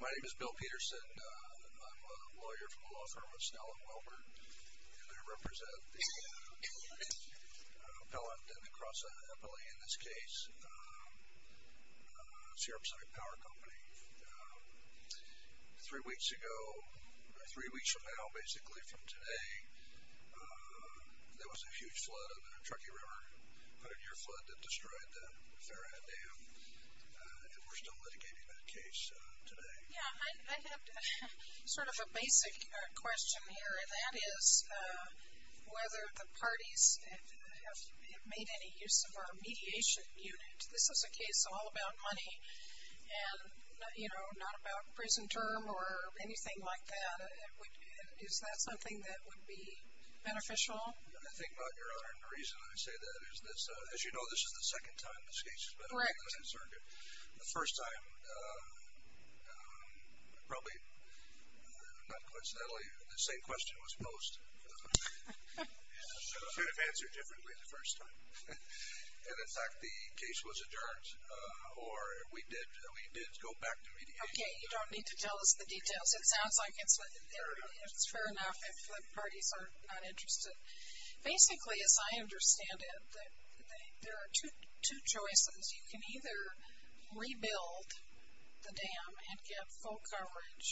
My name is Bill Peterson. I'm a lawyer for the law firm of Snell & Wilbur, and I represent the appellant and the cross-appellee in this case, Sierra Pacific Power Company. Three weeks ago, or three weeks from now, basically from today, there was a huge flood, a Truckee River hundred-year flood that destroyed the Farrah Dam, and we're still litigating that case today. Yeah, I have sort of a basic question here, and that is whether the parties have made any use of a mediation unit. This is a case all about money and, you know, not about prison term or anything like that. Is that something that would be beneficial? The thing about your honor, and the reason I say that is, as you know, this is the second time this case has been opened in the circuit. The first time, probably not coincidentally, the same question was posed, sort of answered differently the first time. And, in fact, the case was adjourned, or we did go back to mediation. Okay, you don't need to tell us the details. It sounds like it's fair enough if the parties are not interested. Basically, as I understand it, there are two choices. You can either rebuild the dam and get full coverage,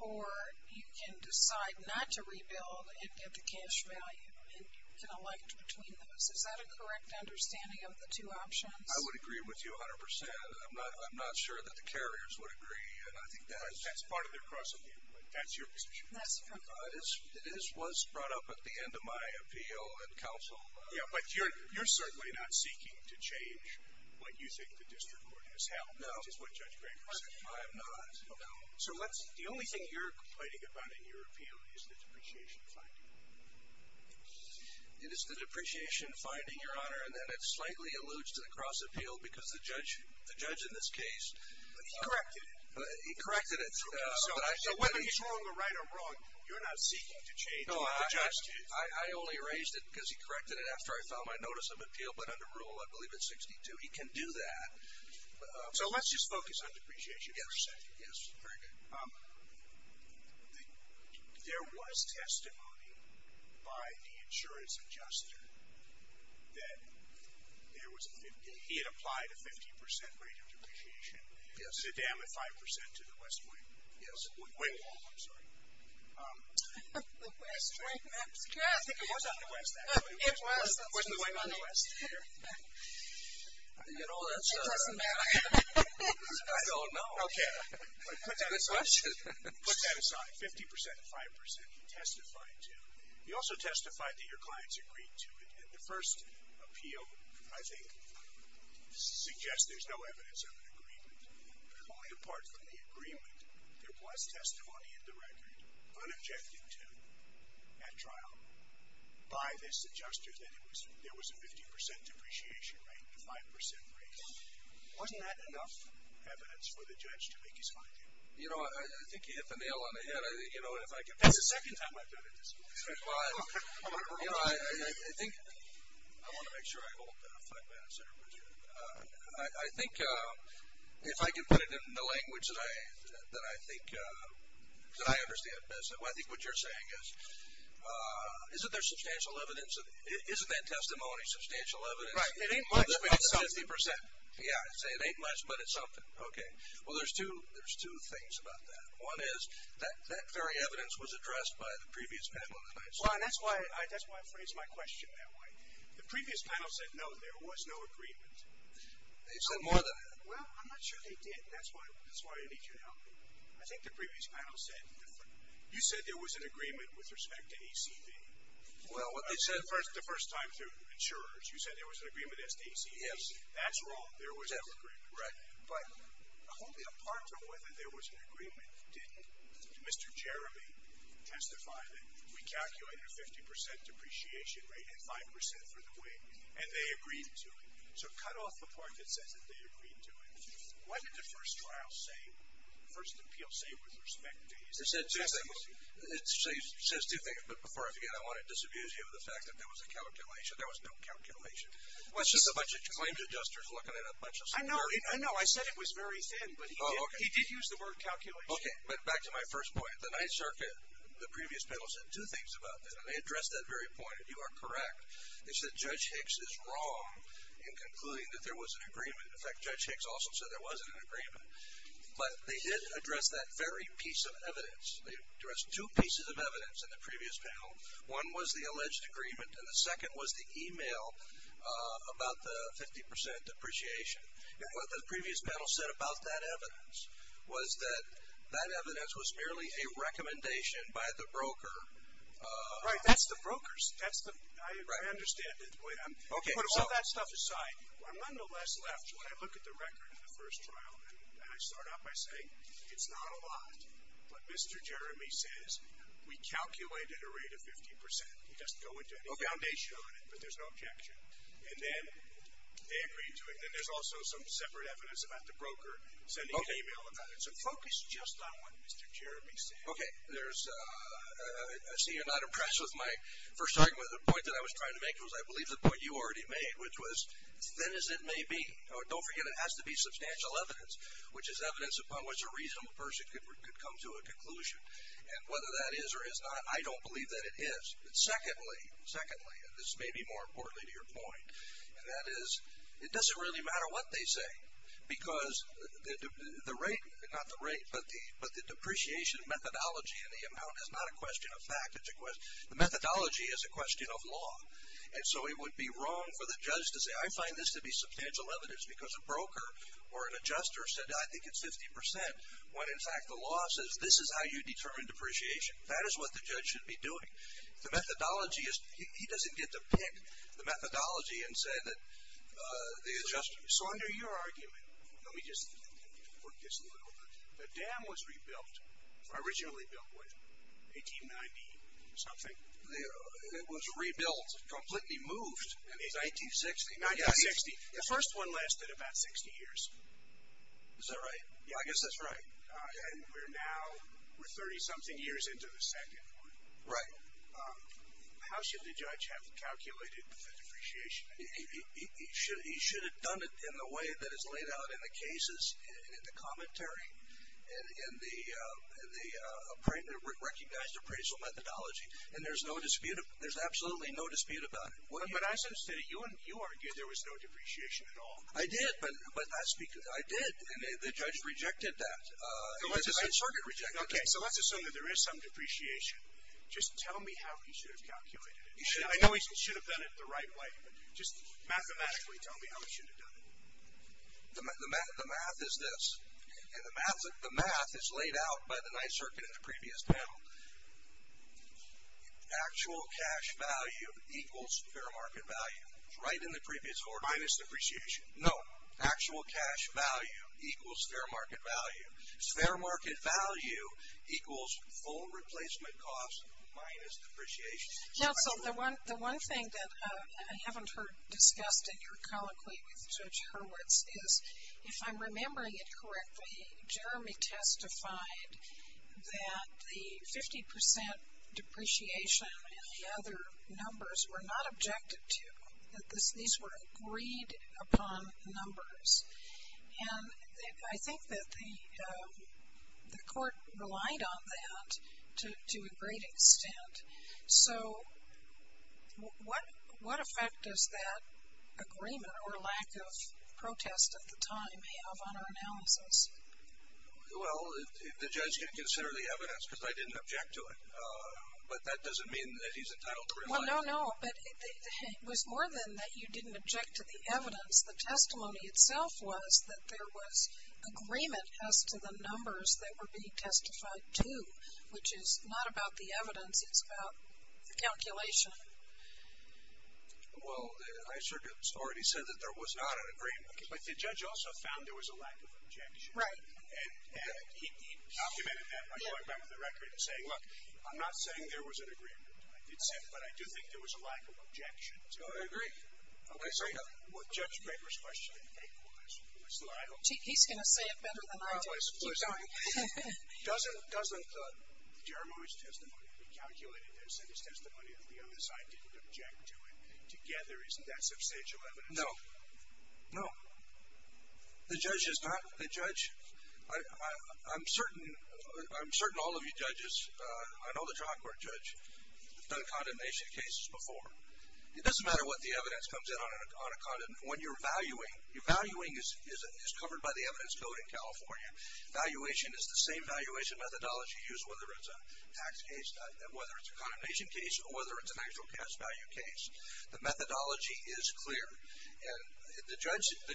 or you can decide not to rebuild and get the cash value, and you can elect between those. Is that a correct understanding of the two options? I would agree with you 100%. I'm not sure that the carriers would agree, and I think that's part of their cross-appeal. That's your position. That's correct. It was brought up at the end of my appeal in counsel. Yeah, but you're certainly not seeking to change what you think the district court has held. No. Which is what Judge Graber said. I am not. No. So let's, the only thing you're complaining about in your appeal is the depreciation finding. It is the depreciation finding, Your Honor, and that it slightly alludes to the cross-appeal because the judge in this case... But he corrected it. He corrected it. So whether he's wrong or right or wrong, you're not seeking to change what the judge did. No, I only raised it because he corrected it after I filed my notice of appeal, but under rule, I believe it's 62. He can do that. So let's just focus on depreciation for a second. Yes, very good. There was testimony by the insurance adjuster that he had applied a 50% rate of depreciation to them and 5% to the West Wing. Yes. Wing. Wing, I'm sorry. The West Wing, that's correct. It was on the West, actually. It was on the West. It wasn't the Wing on the West, either. You know, that's a... It doesn't matter. I don't know. Okay. That's a good question. Put that aside. 50% and 5% he testified to. He also testified that your clients agreed to it. And the first appeal, I think, suggests there's no evidence of an agreement. Only apart from the agreement, there was testimony in the record, unobjective to, at trial, by this adjuster that there was a 50% depreciation rate and a 5% rate. Wasn't that enough? Evidence for the judge to make his mind? You know, I think you hit the nail on the head. You know, if I can... That's the second time I've been at this. Well, you know, I think... I want to make sure I hold that. I think, if I can put it in the language that I think, that I understand best, I think what you're saying is, isn't there substantial evidence? Isn't that testimony substantial evidence? Right. It ain't much, but it's something. Yeah, I'd say it ain't much, but it's something. Okay. Well, there's two things about that. One is, that very evidence was addressed by the previous panel. Well, that's why I phrased my question that way. The previous panel said, no, there was no agreement. They said more than that. Well, I'm not sure they did, and that's why I need your help. I think the previous panel said different. You said there was an agreement with respect to ACV. Well, what they said... The first time through insurers, you said there was an agreement as to ACV. That's wrong. There was no agreement. Right. But only a part of whether there was an agreement didn't. Mr. Jeremy testified that we calculated a 50% depreciation rate and 5% for the wing, and they agreed to it. So cut off the part that says that they agreed to it. What did the first appeal say with respect to ACV? It says two things, but before I forget, I want to disamuse you of the fact that there was a calculation. There was no calculation. It was just a bunch of claims adjusters looking at a bunch of... I know. I know. I said it was very thin, but he did use the word calculation. Okay, but back to my first point. The Ninth Circuit, the previous panel said two things about this, and they addressed that very point, and you are correct. They said Judge Hicks is wrong in concluding that there was an agreement. In fact, Judge Hicks also said there was an agreement. But they did address that very piece of evidence. They addressed two pieces of evidence in the previous panel. One was the alleged agreement, and the second was the e-mail about the 50% depreciation. What the previous panel said about that evidence was that that evidence was merely a recommendation by the broker. Right. That's the broker's. I understand. Put all that stuff aside. I'm nonetheless left, when I look at the record of the first trial, and I start out by saying it's not a lot, but Mr. Jeremy says we calculated a rate of 50%. It doesn't go into any foundation on it, but there's no objection. And then they agree to it. Then there's also some separate evidence about the broker sending an e-mail about it. So focus just on what Mr. Jeremy said. Okay. I see you're not impressed with my first argument. The point that I was trying to make was I believe the point you already made, which was thin as it may be. Don't forget it has to be substantial evidence, which is evidence upon which a reasonable person could come to a conclusion. And whether that is or is not, I don't believe that it is. Secondly, and this may be more importantly to your point, that is it doesn't really matter what they say because the rate, not the rate, but the depreciation methodology and the amount is not a question of fact. The methodology is a question of law. And so it would be wrong for the judge to say I find this to be substantial evidence because a broker or an adjuster said I think it's 50% when, in fact, the law says this is how you determine depreciation. That is what the judge should be doing. The methodology is, he doesn't get to pick the methodology and say that the adjuster. So under your argument, let me just work this a little bit. The dam was rebuilt, originally built what, 1890 something? It was rebuilt, completely moved in 1960. 1960. The first one lasted about 60 years. Is that right? Yeah, I guess that's right. And we're now, we're 30-something years into the second one. Right. How should the judge have calculated the depreciation? He should have done it in the way that is laid out in the cases, in the commentary, in the recognized appraisal methodology. And there's no dispute, there's absolutely no dispute about it. But you argued there was no depreciation at all. I did. I did. The judge rejected that. The Ninth Circuit rejected that. Okay, so let's assume that there is some depreciation. Just tell me how he should have calculated it. I know he should have done it the right way, but just mathematically tell me how he should have done it. The math is this. And the math is laid out by the Ninth Circuit in the previous panel. Actual cash value equals fair market value. Right in the previous order. Minus depreciation. No, actual cash value equals fair market value. Fair market value equals full replacement cost minus depreciation. Counsel, the one thing that I haven't heard discussed in your colloquy with Judge Hurwitz is, if I'm remembering it correctly, Jeremy testified that the 50% depreciation and the other numbers were not objected to. That these were agreed upon numbers. And I think that the court relied on that to a great extent. So what effect does that agreement or lack of protest at the time have on our analysis? Well, the judge can consider the evidence because I didn't object to it. But that doesn't mean that he's entitled to rely on it. Well, no, no. But it was more than that you didn't object to the evidence. The testimony itself was that there was agreement as to the numbers that were being testified to, which is not about the evidence. It's about the calculation. Well, I should have already said that there was not an agreement. But the judge also found there was a lack of objection. Right. And he documented that by going back to the record and saying, look, I'm not saying there was an agreement. I did say it, but I do think there was a lack of objection to it. Oh, I agree. I agree. Well, Judge Baker's question in faith was. He's going to say it better than I do. Keep going. Doesn't Jeremy's testimony, he calculated this, and his testimony of the other side didn't object to it together. Isn't that substantial evidence? No. No. The judge is not the judge. I'm certain all of you judges, I know the trial court judge, have done condemnation cases before. It doesn't matter what the evidence comes in on a condemn. When you're valuing, your valuing is covered by the evidence code in California. Valuation is the same valuation methodology used whether it's a tax case, whether it's a condemnation case, or whether it's an actual tax value case. The methodology is clear. And the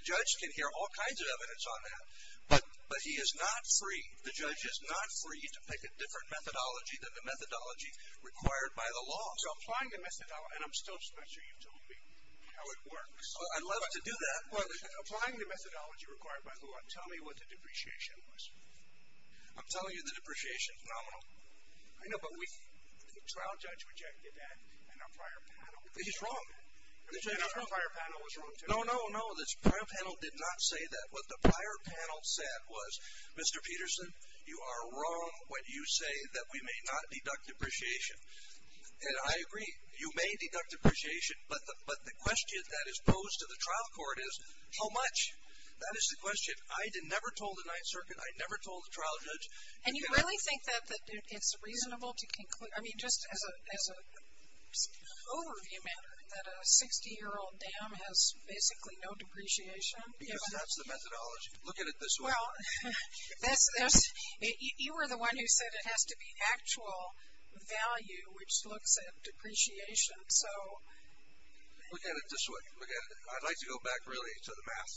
judge can hear all kinds of evidence on that. But he is not free, the judge is not free, to pick a different methodology than the methodology required by the law. So applying the methodology, and I'm still not sure you've told me how it works. I'd love to do that. Applying the methodology required by the law, tell me what the depreciation was. I'm telling you the depreciation is nominal. I know, but the trial judge rejected that, and our prior panel. He's wrong. Our prior panel was wrong too. No, no, no. The prior panel did not say that. What the prior panel said was, Mr. Peterson, you are wrong when you say that we may not deduct depreciation. And I agree, you may deduct depreciation, but the question that is posed to the trial court is, how much? That is the question. I never told the Ninth Circuit, I never told the trial judge. And you really think that it's reasonable to conclude, I mean, just as an overview matter, that a 60-year-old dam has basically no depreciation? Because that's the methodology. Look at it this way. Well, you were the one who said it has to be actual value, which looks at depreciation. Look at it this way. I'd like to go back really to the math,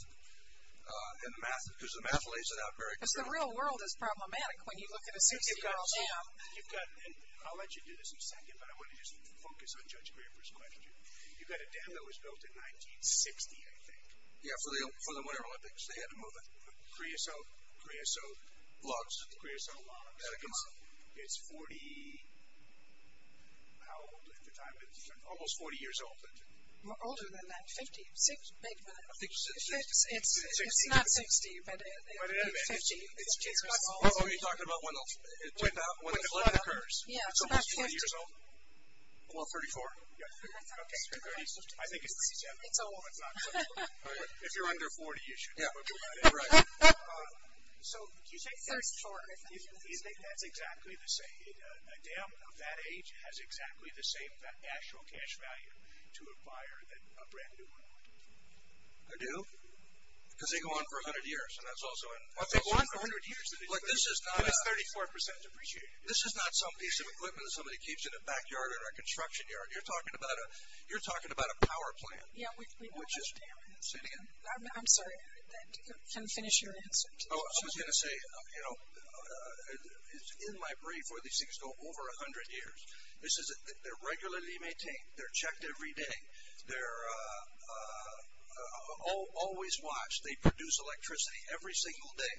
because the math lays it out very clearly. Because the real world is problematic when you look at a 60-year-old dam. I'll let you do this in a second, but I want to just focus on Judge Graber's question. You've got a dam that was built in 1960, I think. Yeah, for the Winter Olympics. They had to move it. Creosote? Creosote. Logs? Creosote logs. It's 40, how old at the time? Almost 40 years old. Older than that, 50. I think it was 60. It's not 60, but 50 years old. What are you talking about when the flood occurs? Yeah, it's about 50. It's almost 40 years old? Well, 34. I think it's 60. It's old. If you're under 40, you should know. So, do you think that's exactly the same? A dam of that age has exactly the same actual cash value to acquire a brand new one? I do. Because they go on for 100 years, and that's also an issue. But they go on for 100 years, and it's 34% depreciated. This is not some piece of equipment that somebody keeps in a backyard or a construction yard. You're talking about a power plant. Say it again. I'm sorry. You can finish your answer. I was going to say, you know, it's in my brain for these things to go over 100 years. They're regularly maintained. They're checked every day. They're always watched. They produce electricity every single day,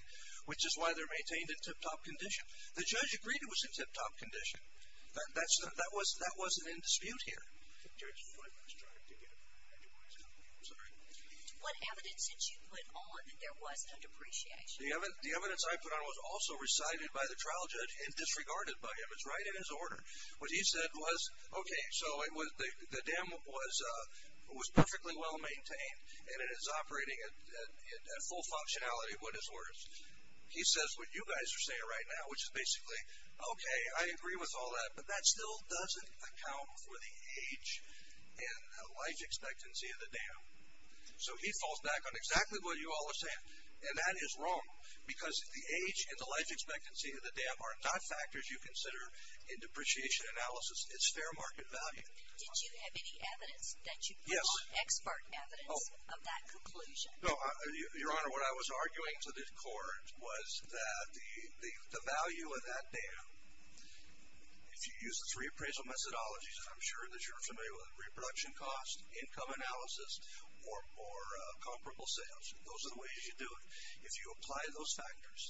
which is why they're maintained in tip-top condition. The judge agreed it was in tip-top condition. That wasn't in dispute here. I'm sorry. What evidence did you put on that there was a depreciation? The evidence I put on was also recited by the trial judge and disregarded by him. It's right in his order. What he said was, okay, so the dam was perfectly well-maintained, and it is operating at full functionality with his orders. He says what you guys are saying right now, which is basically, okay, I agree with all that, but that still doesn't account for the age and life expectancy of the dam. So he falls back on exactly what you all are saying, and that is wrong, because the age and the life expectancy of the dam are not factors you consider in depreciation analysis. It's fair market value. Did you have any evidence that you put on expert evidence of that conclusion? No, Your Honor, what I was arguing to the court was that the value of that dam, if you use the three appraisal methodologies, I'm sure that you're familiar with, reproduction cost, income analysis, or comparable sales. Those are the ways you do it. If you apply those factors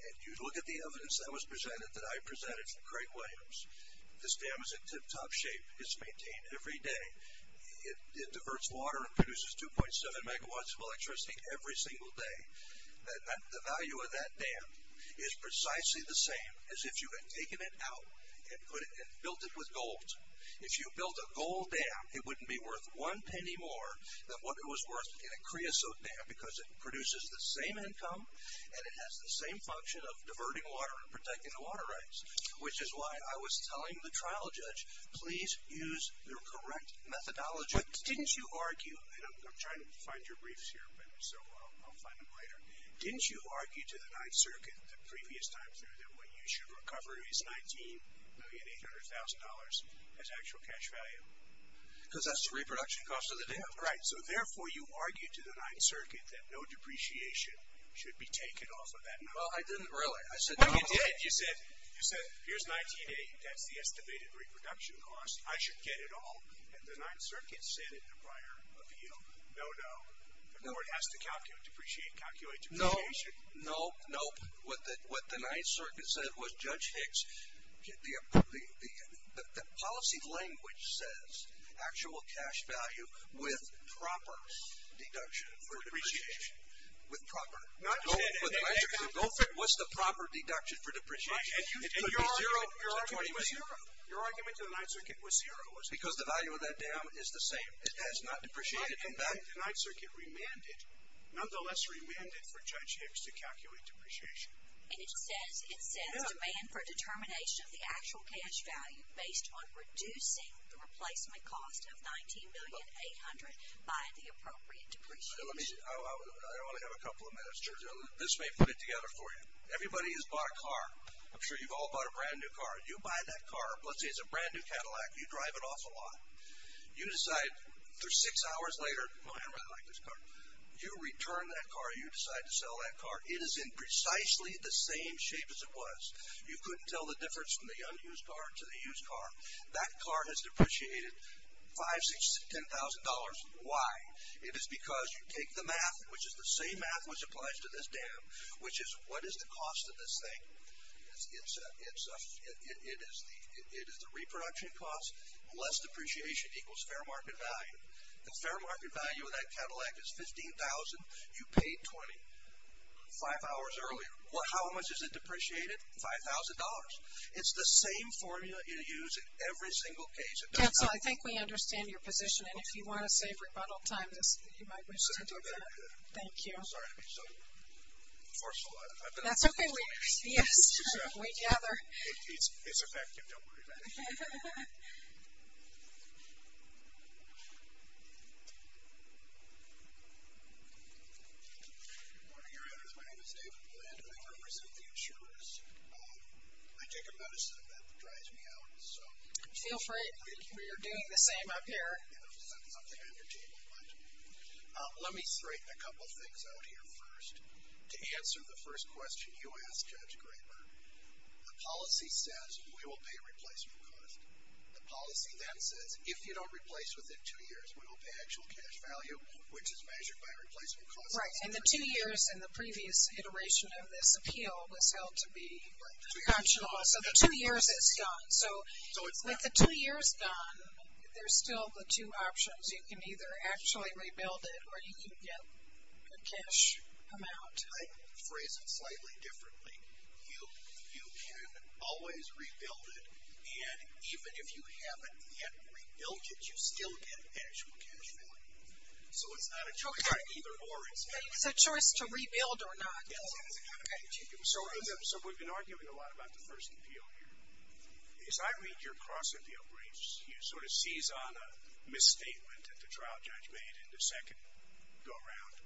and you look at the evidence that was presented, that I presented for Craig Williams, this dam is in tip-top shape. It's maintained every day. It diverts water and produces 2.7 megawatts of electricity every single day. The value of that dam is precisely the same as if you had taken it out and built it with gold. If you built a gold dam, it wouldn't be worth one penny more than what it was worth in a creosote dam because it produces the same income and it has the same function of diverting water and protecting the water rights, which is why I was telling the trial judge, please use your correct methodology. Didn't you argue, and I'm trying to find your briefs here, so I'll find them later. Didn't you argue to the Ninth Circuit the previous time through that what you should recover is $19,800,000 as actual cash value? Because that's the reproduction cost of the dam. Right. So therefore you argued to the Ninth Circuit that no depreciation should be taken off of that number. Well, I didn't really. No, you did. You said, here's $19,800. That's the estimated reproduction cost. I should get it all. And the Ninth Circuit said in the prior appeal, no, no. The court has to calculate depreciation. No, no, no. What the Ninth Circuit said was Judge Hicks, the policy language says actual cash value with proper deduction for depreciation. With proper. What's the proper deduction for depreciation? It could be zero. Your argument was zero. The Ninth Circuit was zero. Because the value of that dam is the same. It has not depreciated. In fact, the Ninth Circuit remanded, nonetheless remanded for Judge Hicks to calculate depreciation. And it says demand for determination of the actual cash value based on reducing the replacement cost of $19,800,000 by the appropriate depreciation. I want to have a couple of minutes. This may put it together for you. Everybody has bought a car. I'm sure you've all bought a brand new car. You buy that car. Let's say it's a brand new Cadillac. You drive it off a lot. You decide, six hours later, oh, I really like this car. You return that car. You decide to sell that car. It is in precisely the same shape as it was. You couldn't tell the difference from the unused car to the used car. That car has depreciated $5,000, $6,000, $10,000. Why? It is because you take the math, which is the same math which applies to this dam, which is what is the cost of this thing? It is the reproduction cost, less depreciation equals fair market value. The fair market value of that Cadillac is $15,000. You paid $20,000 five hours earlier. How much has it depreciated? $5,000. It's the same formula you use in every single case. Council, I think we understand your position. And if you want to save rebuttal time, you might wish to do that. Thank you. I'm sorry to be so forceful. That's okay. Yes. We gather. It's effective. Don't worry about it. Good morning, your honors. My name is David Blanton. I represent the insurers. I take a medicine that drives me out. Feel free. I think we are doing the same up here. It was something entertaining. Let me straighten a couple of things out here first. To answer the first question you asked, Judge Graber, the policy says we will pay replacement cost. The policy then says if you don't replace within two years, we will pay actual cash value, which is measured by replacement cost. Right. And the two years in the previous iteration of this appeal was held to be functional. So the two years is done. So with the two years done, there's still the two options. You can either actually rebuild it or you can get a cash amount. I phrase it slightly differently. You can always rebuild it. And even if you haven't yet rebuilt it, you still get actual cash value. So it's not a choice. It's a choice to rebuild or not. So we've been arguing a lot about the first appeal here. As I read your cross-appeal briefs, you sort of seize on a misstatement that the trial judge made in the second go-round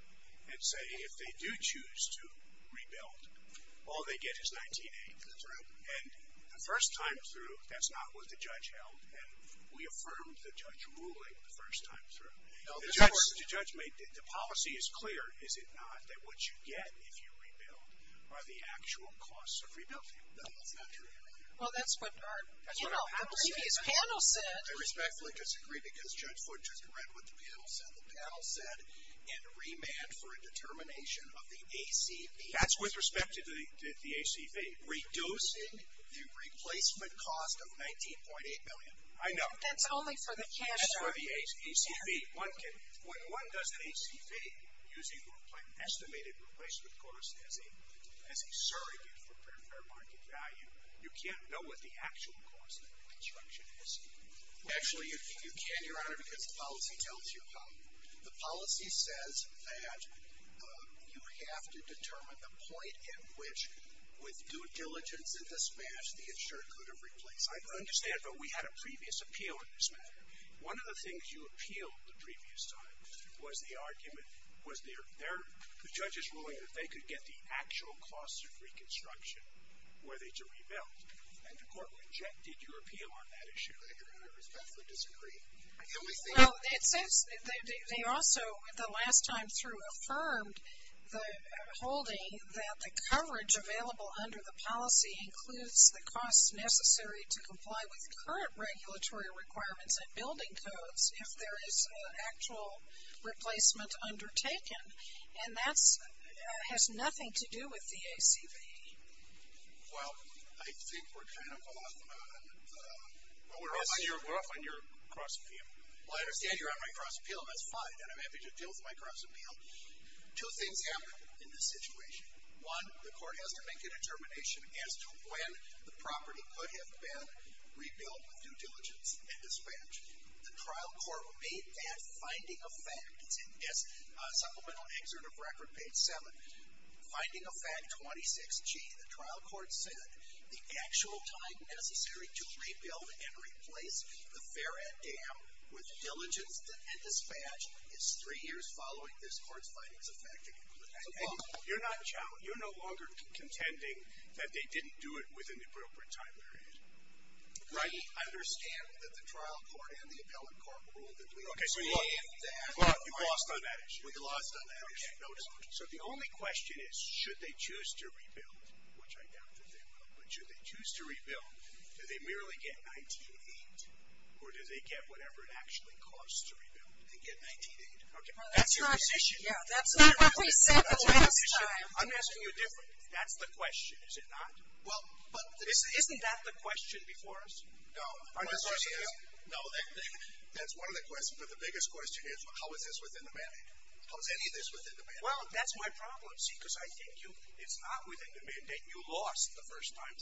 and say if they do choose to rebuild, all they get is $19,800. That's right. And the first time through, that's not what the judge held, and we affirmed the judge ruling the first time through. No, of course. The judge made the policy is clear, is it not, that what you get if you rebuild are the actual costs of rebuilding. No, that's not true. Well, that's what our previous panel said. I respectfully disagree because Judge Foote just read what the panel said. The panel said in remand for a determination of the ACV. That's with respect to the ACV. Reducing the replacement cost of $19.8 million. I know. But that's only for the cash. That's for the ACV. When one does an ACV, using the estimated replacement cost as a surrogate for fair market value, you can't know what the actual cost of reconstruction is. Actually, you can, Your Honor, because the policy tells you how. The policy says that you have to determine the point at which, with due diligence and dispatch, the insurer could have replaced. I understand, but we had a previous appeal in this matter. One of the things you appealed the previous time was the argument, was the judges ruling that they could get the actual cost of reconstruction were they to rebuild. And the court rejected your appeal on that issue. I respectfully disagree. It says they also, the last time through, affirmed the holding that the coverage available under the policy includes the costs necessary to comply with current regulatory requirements and building codes if there is actual replacement undertaken. And that has nothing to do with the ACV. Well, I think we're kind of off on the... We're off on your cross appeal. Well, I understand you're on my cross appeal, and that's fine. I'm happy to deal with my cross appeal. Two things happened in this situation. One, the court has to make a determination as to when the property could have been rebuilt with due diligence and dispatch. The trial court made that finding a fact. It's in this supplemental excerpt of record, page 7. Finding a fact 26G, the trial court said the actual time necessary to rebuild and replace the Fair Ed Dam with diligence and dispatch is three years following this court's findings effective. And you're no longer contending that they didn't do it within the appropriate time period. Right. I understand that the trial court and the appellate court ruled that we lost on that issue. We lost on that issue. So the only question is, should they choose to rebuild, which I doubt that they will, but should they choose to rebuild, do they merely get $19,800 or do they get whatever it actually costs to rebuild and get $19,800? That's your decision. That's not what we said the last time. I'm asking you a different question. That's the question, is it not? Isn't that the question before us? No. No, that's one of the questions. My question is, how is this within the mandate? How is any of this within the mandate? Well, that's my problem, see, because I think it's not within the mandate. You lost the first time.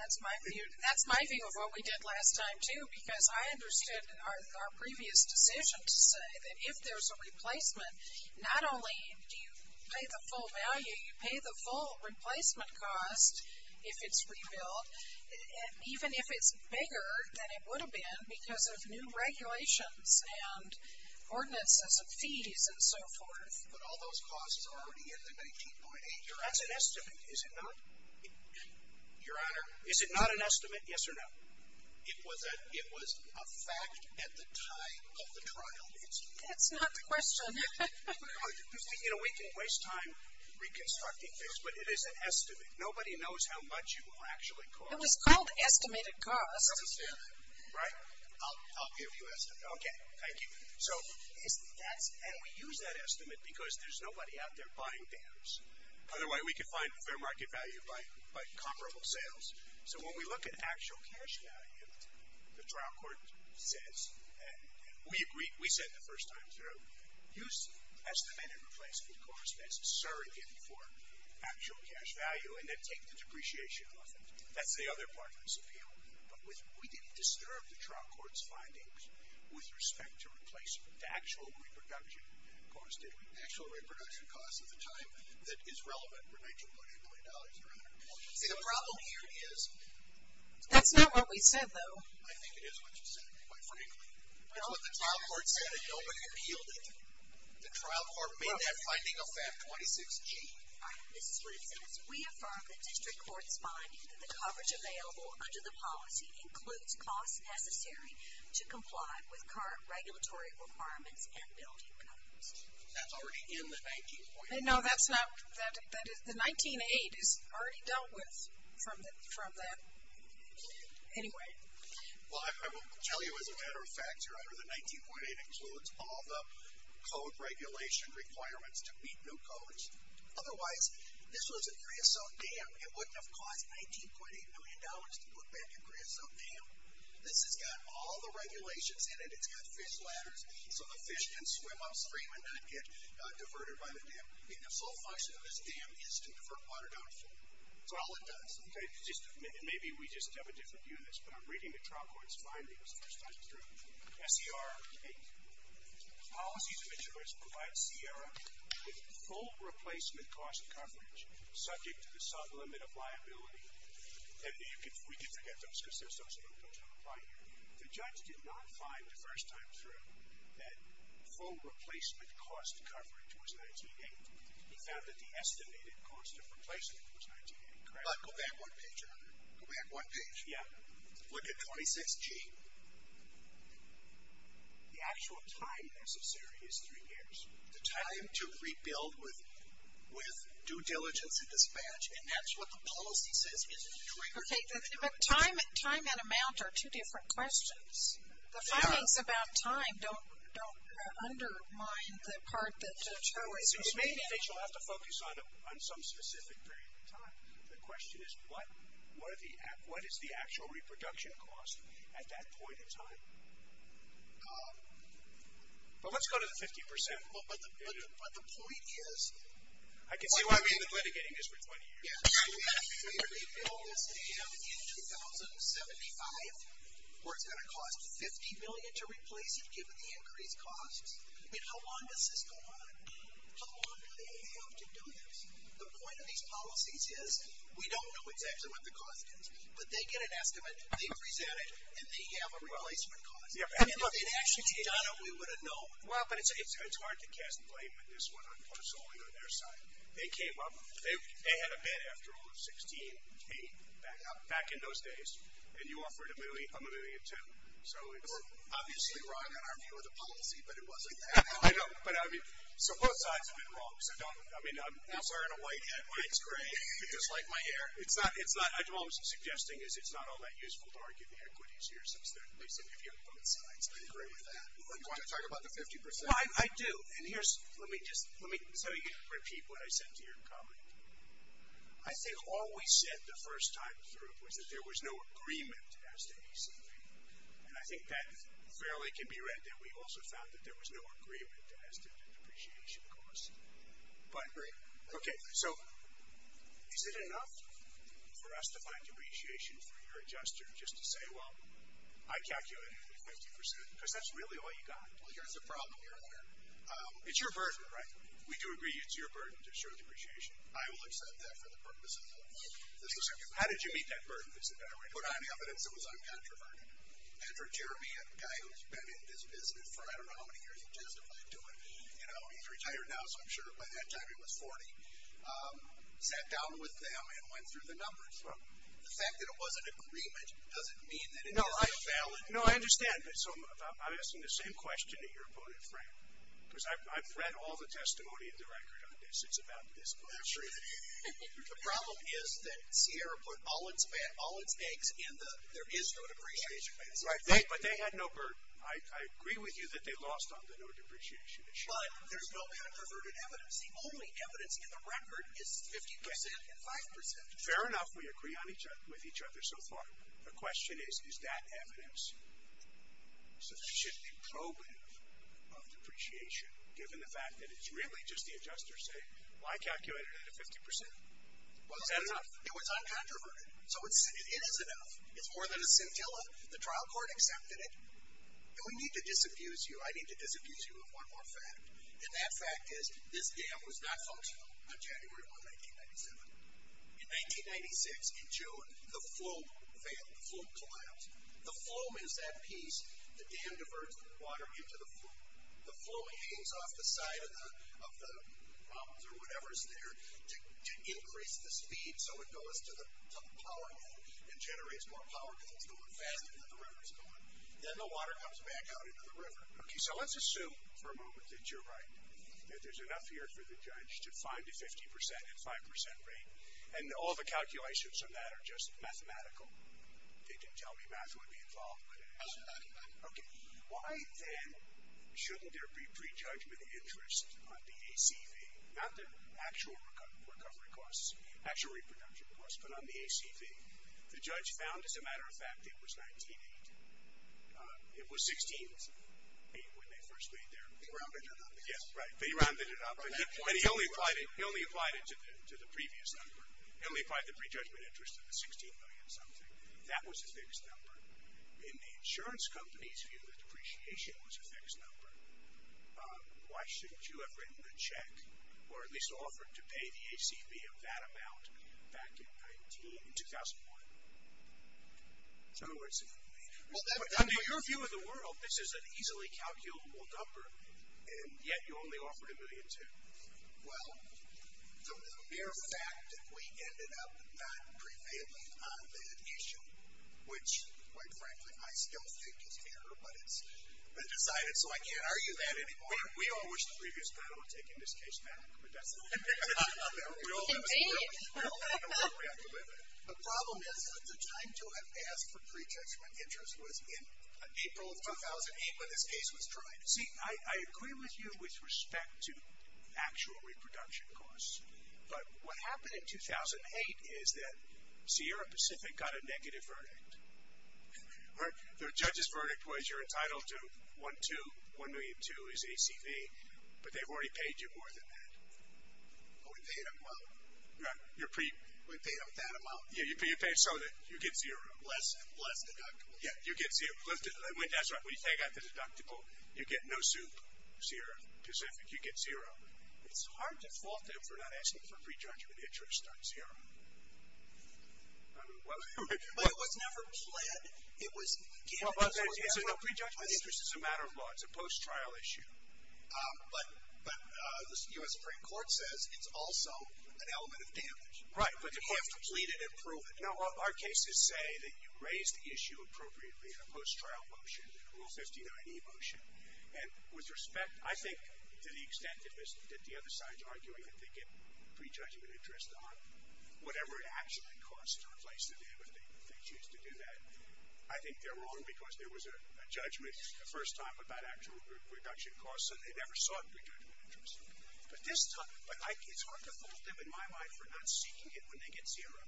That's my view. That's my view of what we did last time, too, because I understood our previous decision to say that if there's a replacement, not only do you pay the full value, you pay the full replacement cost if it's rebuilt, even if it's bigger than it would have been because of new regulations and ordinances of fees and so forth. But all those costs are already in the $19,800. That's an estimate, is it not? Your Honor, is it not an estimate, yes or no? It was a fact at the time of the trial. That's not the question. You know, we can waste time reconstructing things, but it is an estimate. Nobody knows how much you will actually cost. It was called estimated cost. Right? I'll give you an estimate. Okay, thank you. And we use that estimate because there's nobody out there buying dams. Otherwise, we could find fair market value by comparable sales. So when we look at actual cash value, the trial court says, and we said the first time through, use estimated replacement cost as a surrogate for actual cash value. And then take the depreciation off it. That's the other part of this appeal. But we didn't disturb the trial court's findings with respect to replacement, to actual reproduction cost, did we? Actual reproduction cost at the time that is relevant for $19.8 million, Your Honor. See, the problem here is. That's not what we said, though. I think it is what you said, quite frankly. That's what the trial court said, and nobody appealed it. The trial court made that finding affect 26G. All right, Mrs. Woodson, as we affirm the district court's finding that the coverage available under the policy includes costs necessary to comply with current regulatory requirements and building codes. That's already in the 19.8. No, that's not. The 19.8 is already dealt with from that. Anyway. Well, I will tell you as a matter of fact, Your Honor, the 19.8 includes all the code regulation requirements to meet new codes. Otherwise, this was a creosote dam. It wouldn't have cost $19.8 million to put back a creosote dam. This has got all the regulations in it. It's got fish ladders so the fish can swim upstream and not get diverted by the dam. The sole function of this dam is to divert water down the floor. That's all it does. Maybe we just have a different view on this, but I'm reading the trial court's findings the first time through. S.E.R. 8. Policies of insurance provide Sierra with full replacement cost coverage subject to the sublimit of liability. And we can forget those because they're so simple to apply here. The judge did not find the first time through that full replacement cost coverage was 19.8. He found that the estimated cost of replacement was 19.8. Go back one page, Your Honor. Go back one page. Yeah. Look at 26G. The actual time necessary is three years. The time to rebuild with due diligence and dispatch, and that's what the policy says is the trigger. Okay, but time and amount are two different questions. The findings about time don't undermine the part that the judge always was making. You'll have to focus on some specific period of time. The question is what is the actual reproduction cost at that point in time? But let's go to the 50%. But the point is. I can see why we've been litigating this for 20 years. Yeah. If we rebuild this in 2075, where it's going to cost $50 million to replace it given the increased costs, I mean, how long does this go on? How long do they have to do this? The point of these policies is we don't know exactly what the cost is, but they get an estimate, they present it, and they have a replacement cost. And if they'd actually done it, we would have known. Well, but it's hard to cast blame on this one, personally on their side. They came up, they had a bid after all of 16K back in those days, and you offered to move it, I'm moving it too. So it's obviously wrong in our view of the policy, but it wasn't that bad. I know, but I mean, so both sides have been wrong. So don't, I mean, I'm wearing a white hat. White's great. You dislike my hair? It's not, it's not, the problem I'm suggesting is it's not all that useful to argue the equities here, since they're, they seem to be on both sides. I agree with that. Do you want to talk about the 50%? Well, I do. And here's, let me just, let me, so you can repeat what I said to your colleague. I think all we said the first time through was that there was no agreement as to ACV. And I think that fairly can be read that we also found that there was no depreciation costs, but okay. So is it enough for us to find depreciation for your adjuster? Just to say, well, I calculated 50% because that's really all you got. Well, here's the problem here. It's your burden, right? We do agree. It's your burden to show depreciation. I will accept that for the purpose of this. How did you meet that burden? It's a better way to put it on the evidence. It was uncontroverted. And for Jeremy, a guy who's been in this business for, I don't know how many years he testified to it. You know, he's retired now, so I'm sure by that time he was 40. Sat down with them and went through the numbers. The fact that it was an agreement doesn't mean that it wasn't valid. No, I understand. So I'm asking the same question to your opponent, Frank. Because I've read all the testimony of the record on this. It's about this question. The problem is that Sierra put all its eggs in the there is no depreciation. Right. But they had no burden. I agree with you that they lost on the no depreciation issue. But there's no controverted evidence. The only evidence in the record is 50% and 5%. Fair enough. We agree with each other so far. The question is, is that evidence? So there should be probative of depreciation, given the fact that it's really just the adjuster saying, well, I calculated it at 50%. Is that enough? It was uncontroverted. So it is enough. It's more than a scintilla. The trial court accepted it. And we need to disabuse you. I need to disabuse you of one more fact. And that fact is, this dam was not functional on January 1, 1997. In 1996, in June, the flume failed. The flume collapsed. The flume is that piece, the dam diverts the water into the flume. The flume hangs off the side of the problems or whatever is there to increase the speed so it goes to the power dam and generates more power because it's going faster than the river is going. Then the water comes back out into the river. Okay, so let's assume for a moment that you're right, that there's enough here for the judge to find a 50% and 5% rate. And all the calculations on that are just mathematical. They didn't tell me math would be involved, but it is. Okay. Why then shouldn't there be prejudgment interest on the ACV, not the actual recovery costs, actual reproduction costs, but on the ACV? The judge found, as a matter of fact, it was $19.8. It was $16.8 when they first laid there. They rounded it up. Yes, right. They rounded it up. And he only applied it to the previous number. He only applied the prejudgment interest to the $16 million something. That was a fixed number. In the insurance company's view, the depreciation was a fixed number. Why shouldn't you have written a check or at least offered to pay the ACV of that amount back in 2001? So, in your view of the world, this is an easily calculable number, and yet you only offered $1.2 million. Well, the mere fact that we ended up not prevailing on that issue, which, quite frankly, I still think is error, but it's been decided, so I can't argue that anymore. We all wish the previous panel had taken this case back, but that's it. We all have a way to live it. The problem is that the time to have asked for prejudgment interest was in April of 2008 when this case was tried. See, I agree with you with respect to actual reproduction costs, but what happened in 2008 is that Sierra Pacific got a negative verdict. The judge's verdict was you're entitled to $1.2 million. $1.2 million is ACV, but they've already paid you more than that. Oh, we paid them well. We paid them that amount. Yeah, you paid some of it. You get zero. Less deductible. Yeah, you get zero. That's right. They got the deductible. You get no soup, Sierra Pacific. You get zero. It's hard to fault them for not asking for prejudgment interest on Sierra. But it was never pled. It was given. Prejudgment interest is a matter of law. It's a post-trial issue. But the Supreme Court says it's also an element of damage. Right. But you have to plead it and prove it. No, our cases say that you raise the issue appropriately in a post-trial motion, a Rule 59e motion. And with respect, I think, to the extent that the other side is arguing that they get prejudgment interest on whatever it actually costs to replace the damage, if they choose to do that, I think they're wrong, because there was a judgment the first time about actual reduction costs, and they never sought prejudgment interest. But it's hard to fault them, in my mind, for not seeking it when they get zero.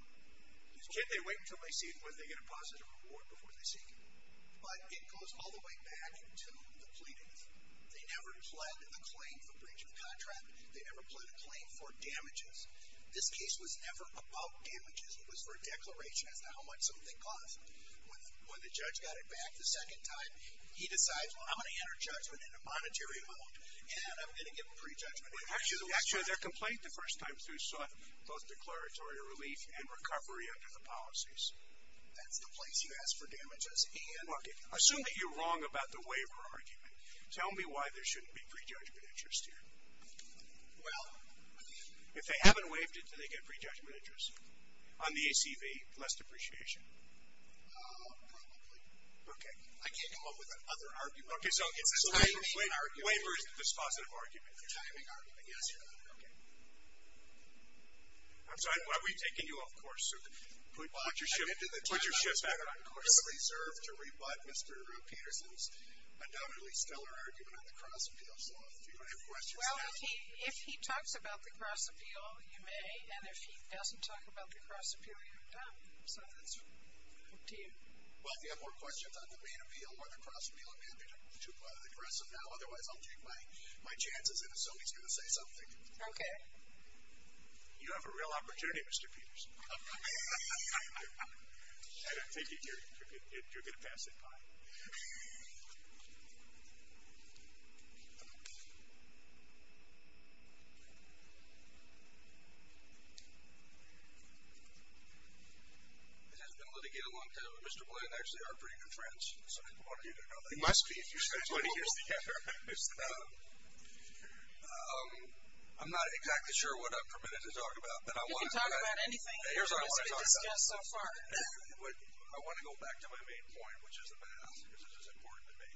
Can't they wait until they see it, when they get a positive award, before they seek it? But it goes all the way back to the pleadings. They never pled the claim for breach of the contract. They never pled a claim for damages. This case was never about damages. It was for a declaration as to how much something costs. When the judge got it back the second time, he decides, well, I'm going to enter judgment in a monetary mode, and I'm going to give a prejudgment interest. Actually, their complaint the first time through sought both declaratory relief and recovery under the policies. That's the place you ask for damages. Okay. Assume that you're wrong about the waiver argument. Tell me why there shouldn't be prejudgment interest here. Well. If they haven't waived it, do they get prejudgment interest? On the ACV, less depreciation. Probably. Okay. I can't come up with another argument. Okay. So it's a timing argument. Waiver is the dispositive argument. A timing argument. Yes, Your Honor. Okay. I'm sorry. Are we taking you off course? Put your shifts back on course. I reserve to rebut Mr. Peterson's undoubtedly stellar argument on the cross appeal. So if you have questions. Well, if he talks about the cross appeal, you may. And if he doesn't talk about the cross appeal, you're done. So that's up to you. Well, if you have more questions on the main appeal or the cross appeal, Amanda, you're too aggressive now. Otherwise, I'll take my chances and assume he's going to say something. Okay. You have a real opportunity, Mr. Peterson. I don't think you're going to pass it by. It has been a long time. Mr. Blanton and I actually are pretty good friends. It must be if you spent 20 years together. I'm not exactly sure what I'm permitted to talk about. You can talk about anything. Here's what I want to talk about. I want to go back to my main point, which is the math, because it is important to me.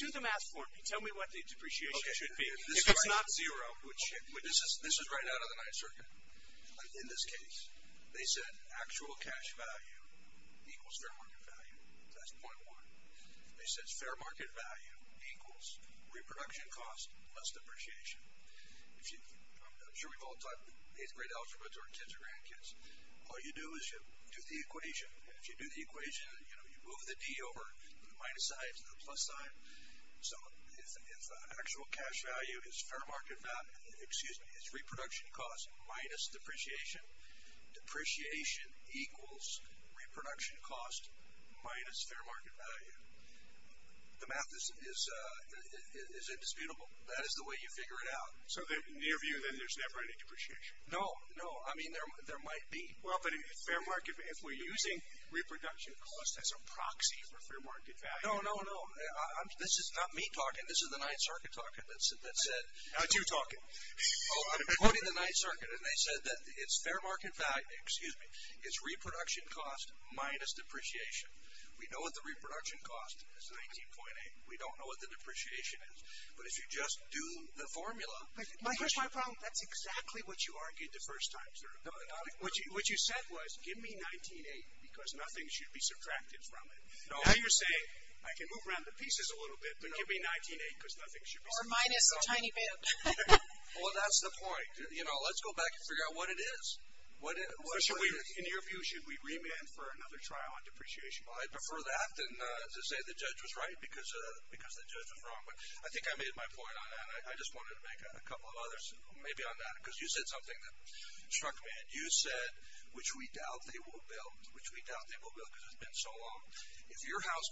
Do the math for me. Tell me what the depreciation should be. If it's not zero. This is right out of the Ninth Circuit. In this case, they said actual cash value equals fair market value. That's .1. They said fair market value equals reproduction cost plus depreciation. I'm sure we've all taught eighth grade algebra to our kids or grandkids. All you do is you do the equation. If you do the equation, you move the D over the minus sign to the plus sign. So if actual cash value is fair market value, excuse me, it's reproduction cost minus depreciation. Depreciation equals reproduction cost minus fair market value. The math is indisputable. That is the way you figure it out. So near view, then, there's never any depreciation. No, no. I mean, there might be. Well, but if we're using reproduction cost as a proxy for fair market value. No, no, no. This is not me talking. This is the Ninth Circuit talking. Not you talking. I'm quoting the Ninth Circuit, and they said that it's fair market value, excuse me, it's reproduction cost minus depreciation. We know what the reproduction cost is, 19.8. We don't know what the depreciation is. But if you just do the formula. Here's my problem. That's exactly what you argued the first time, sir. What you said was give me 19.8 because nothing should be subtracted from it. Now you're saying I can move around the pieces a little bit, but give me 19.8 because nothing should be subtracted from it. Or minus a tiny bit. Well, that's the point. You know, let's go back and figure out what it is. In your view, should we remand for another trial on depreciation? Well, I'd prefer that than to say the judge was right because the judge was wrong. I think I made my point on that, and I just wanted to make a couple of others maybe on that because you said something that struck me, and you said, which we doubt they will build, which we doubt they will build because it's been so long. If your house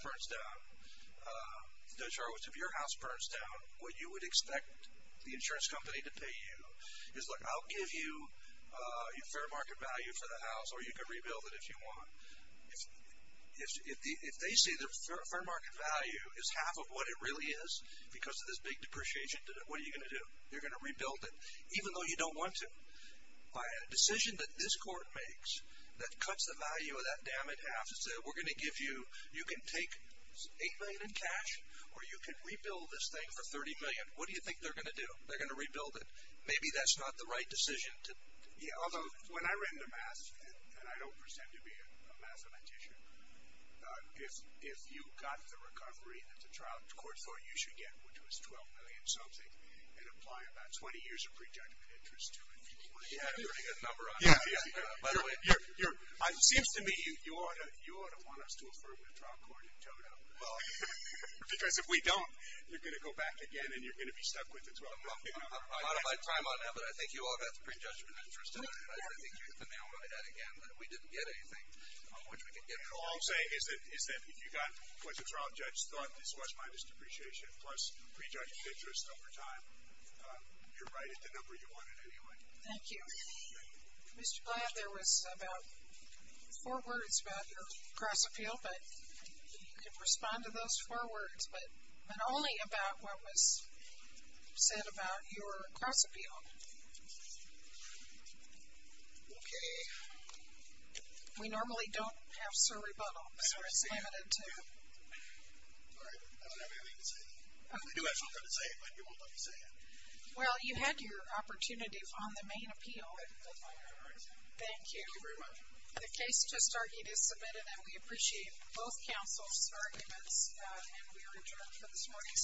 burns down, what you would expect the insurance company to pay you is, look, I'll give you fair market value for the house, or you can rebuild it if you want. If they say the fair market value is half of what it really is because of this big depreciation, what are you going to do? They're going to rebuild it, even though you don't want to. By a decision that this court makes that cuts the value of that dam in half and says we're going to give you, you can take $8 million in cash, or you can rebuild this thing for $30 million, what do you think they're going to do? They're going to rebuild it. Maybe that's not the right decision. When I ran the math, and I don't pretend to be a mathematician, if you got the recovery that the trial court thought you should get, which was $12 million something, and apply about 20 years of prejudgment interest to it, you're going to get a number on it. By the way, it seems to me you ought to want us to affirm the trial court in total because if we don't, you're going to go back again, and you're going to be stuck with the $12 million. I'm out of my time on that, but I think you ought to have the prejudgment interest in it. I think you can now write that again that we didn't get anything, which we could get in the long run. What you're saying is that you got what the trial judge thought was minus depreciation plus prejudged interest over time. You're right at the number you wanted anyway. Thank you. Mr. Blatt, there was about four words about your cross-appeal, but you can respond to those four words, but only about what was said about your cross-appeal. Okay. We normally don't have sir rebuttal, so it's limited to. All right. I don't have anything to say. I do have something to say, but you won't let me say it. Well, you had your opportunity on the main appeal. All right. Thank you. Thank you very much. The case to start is submitted, and we appreciate both counsel's arguments, and we are adjourned for this morning.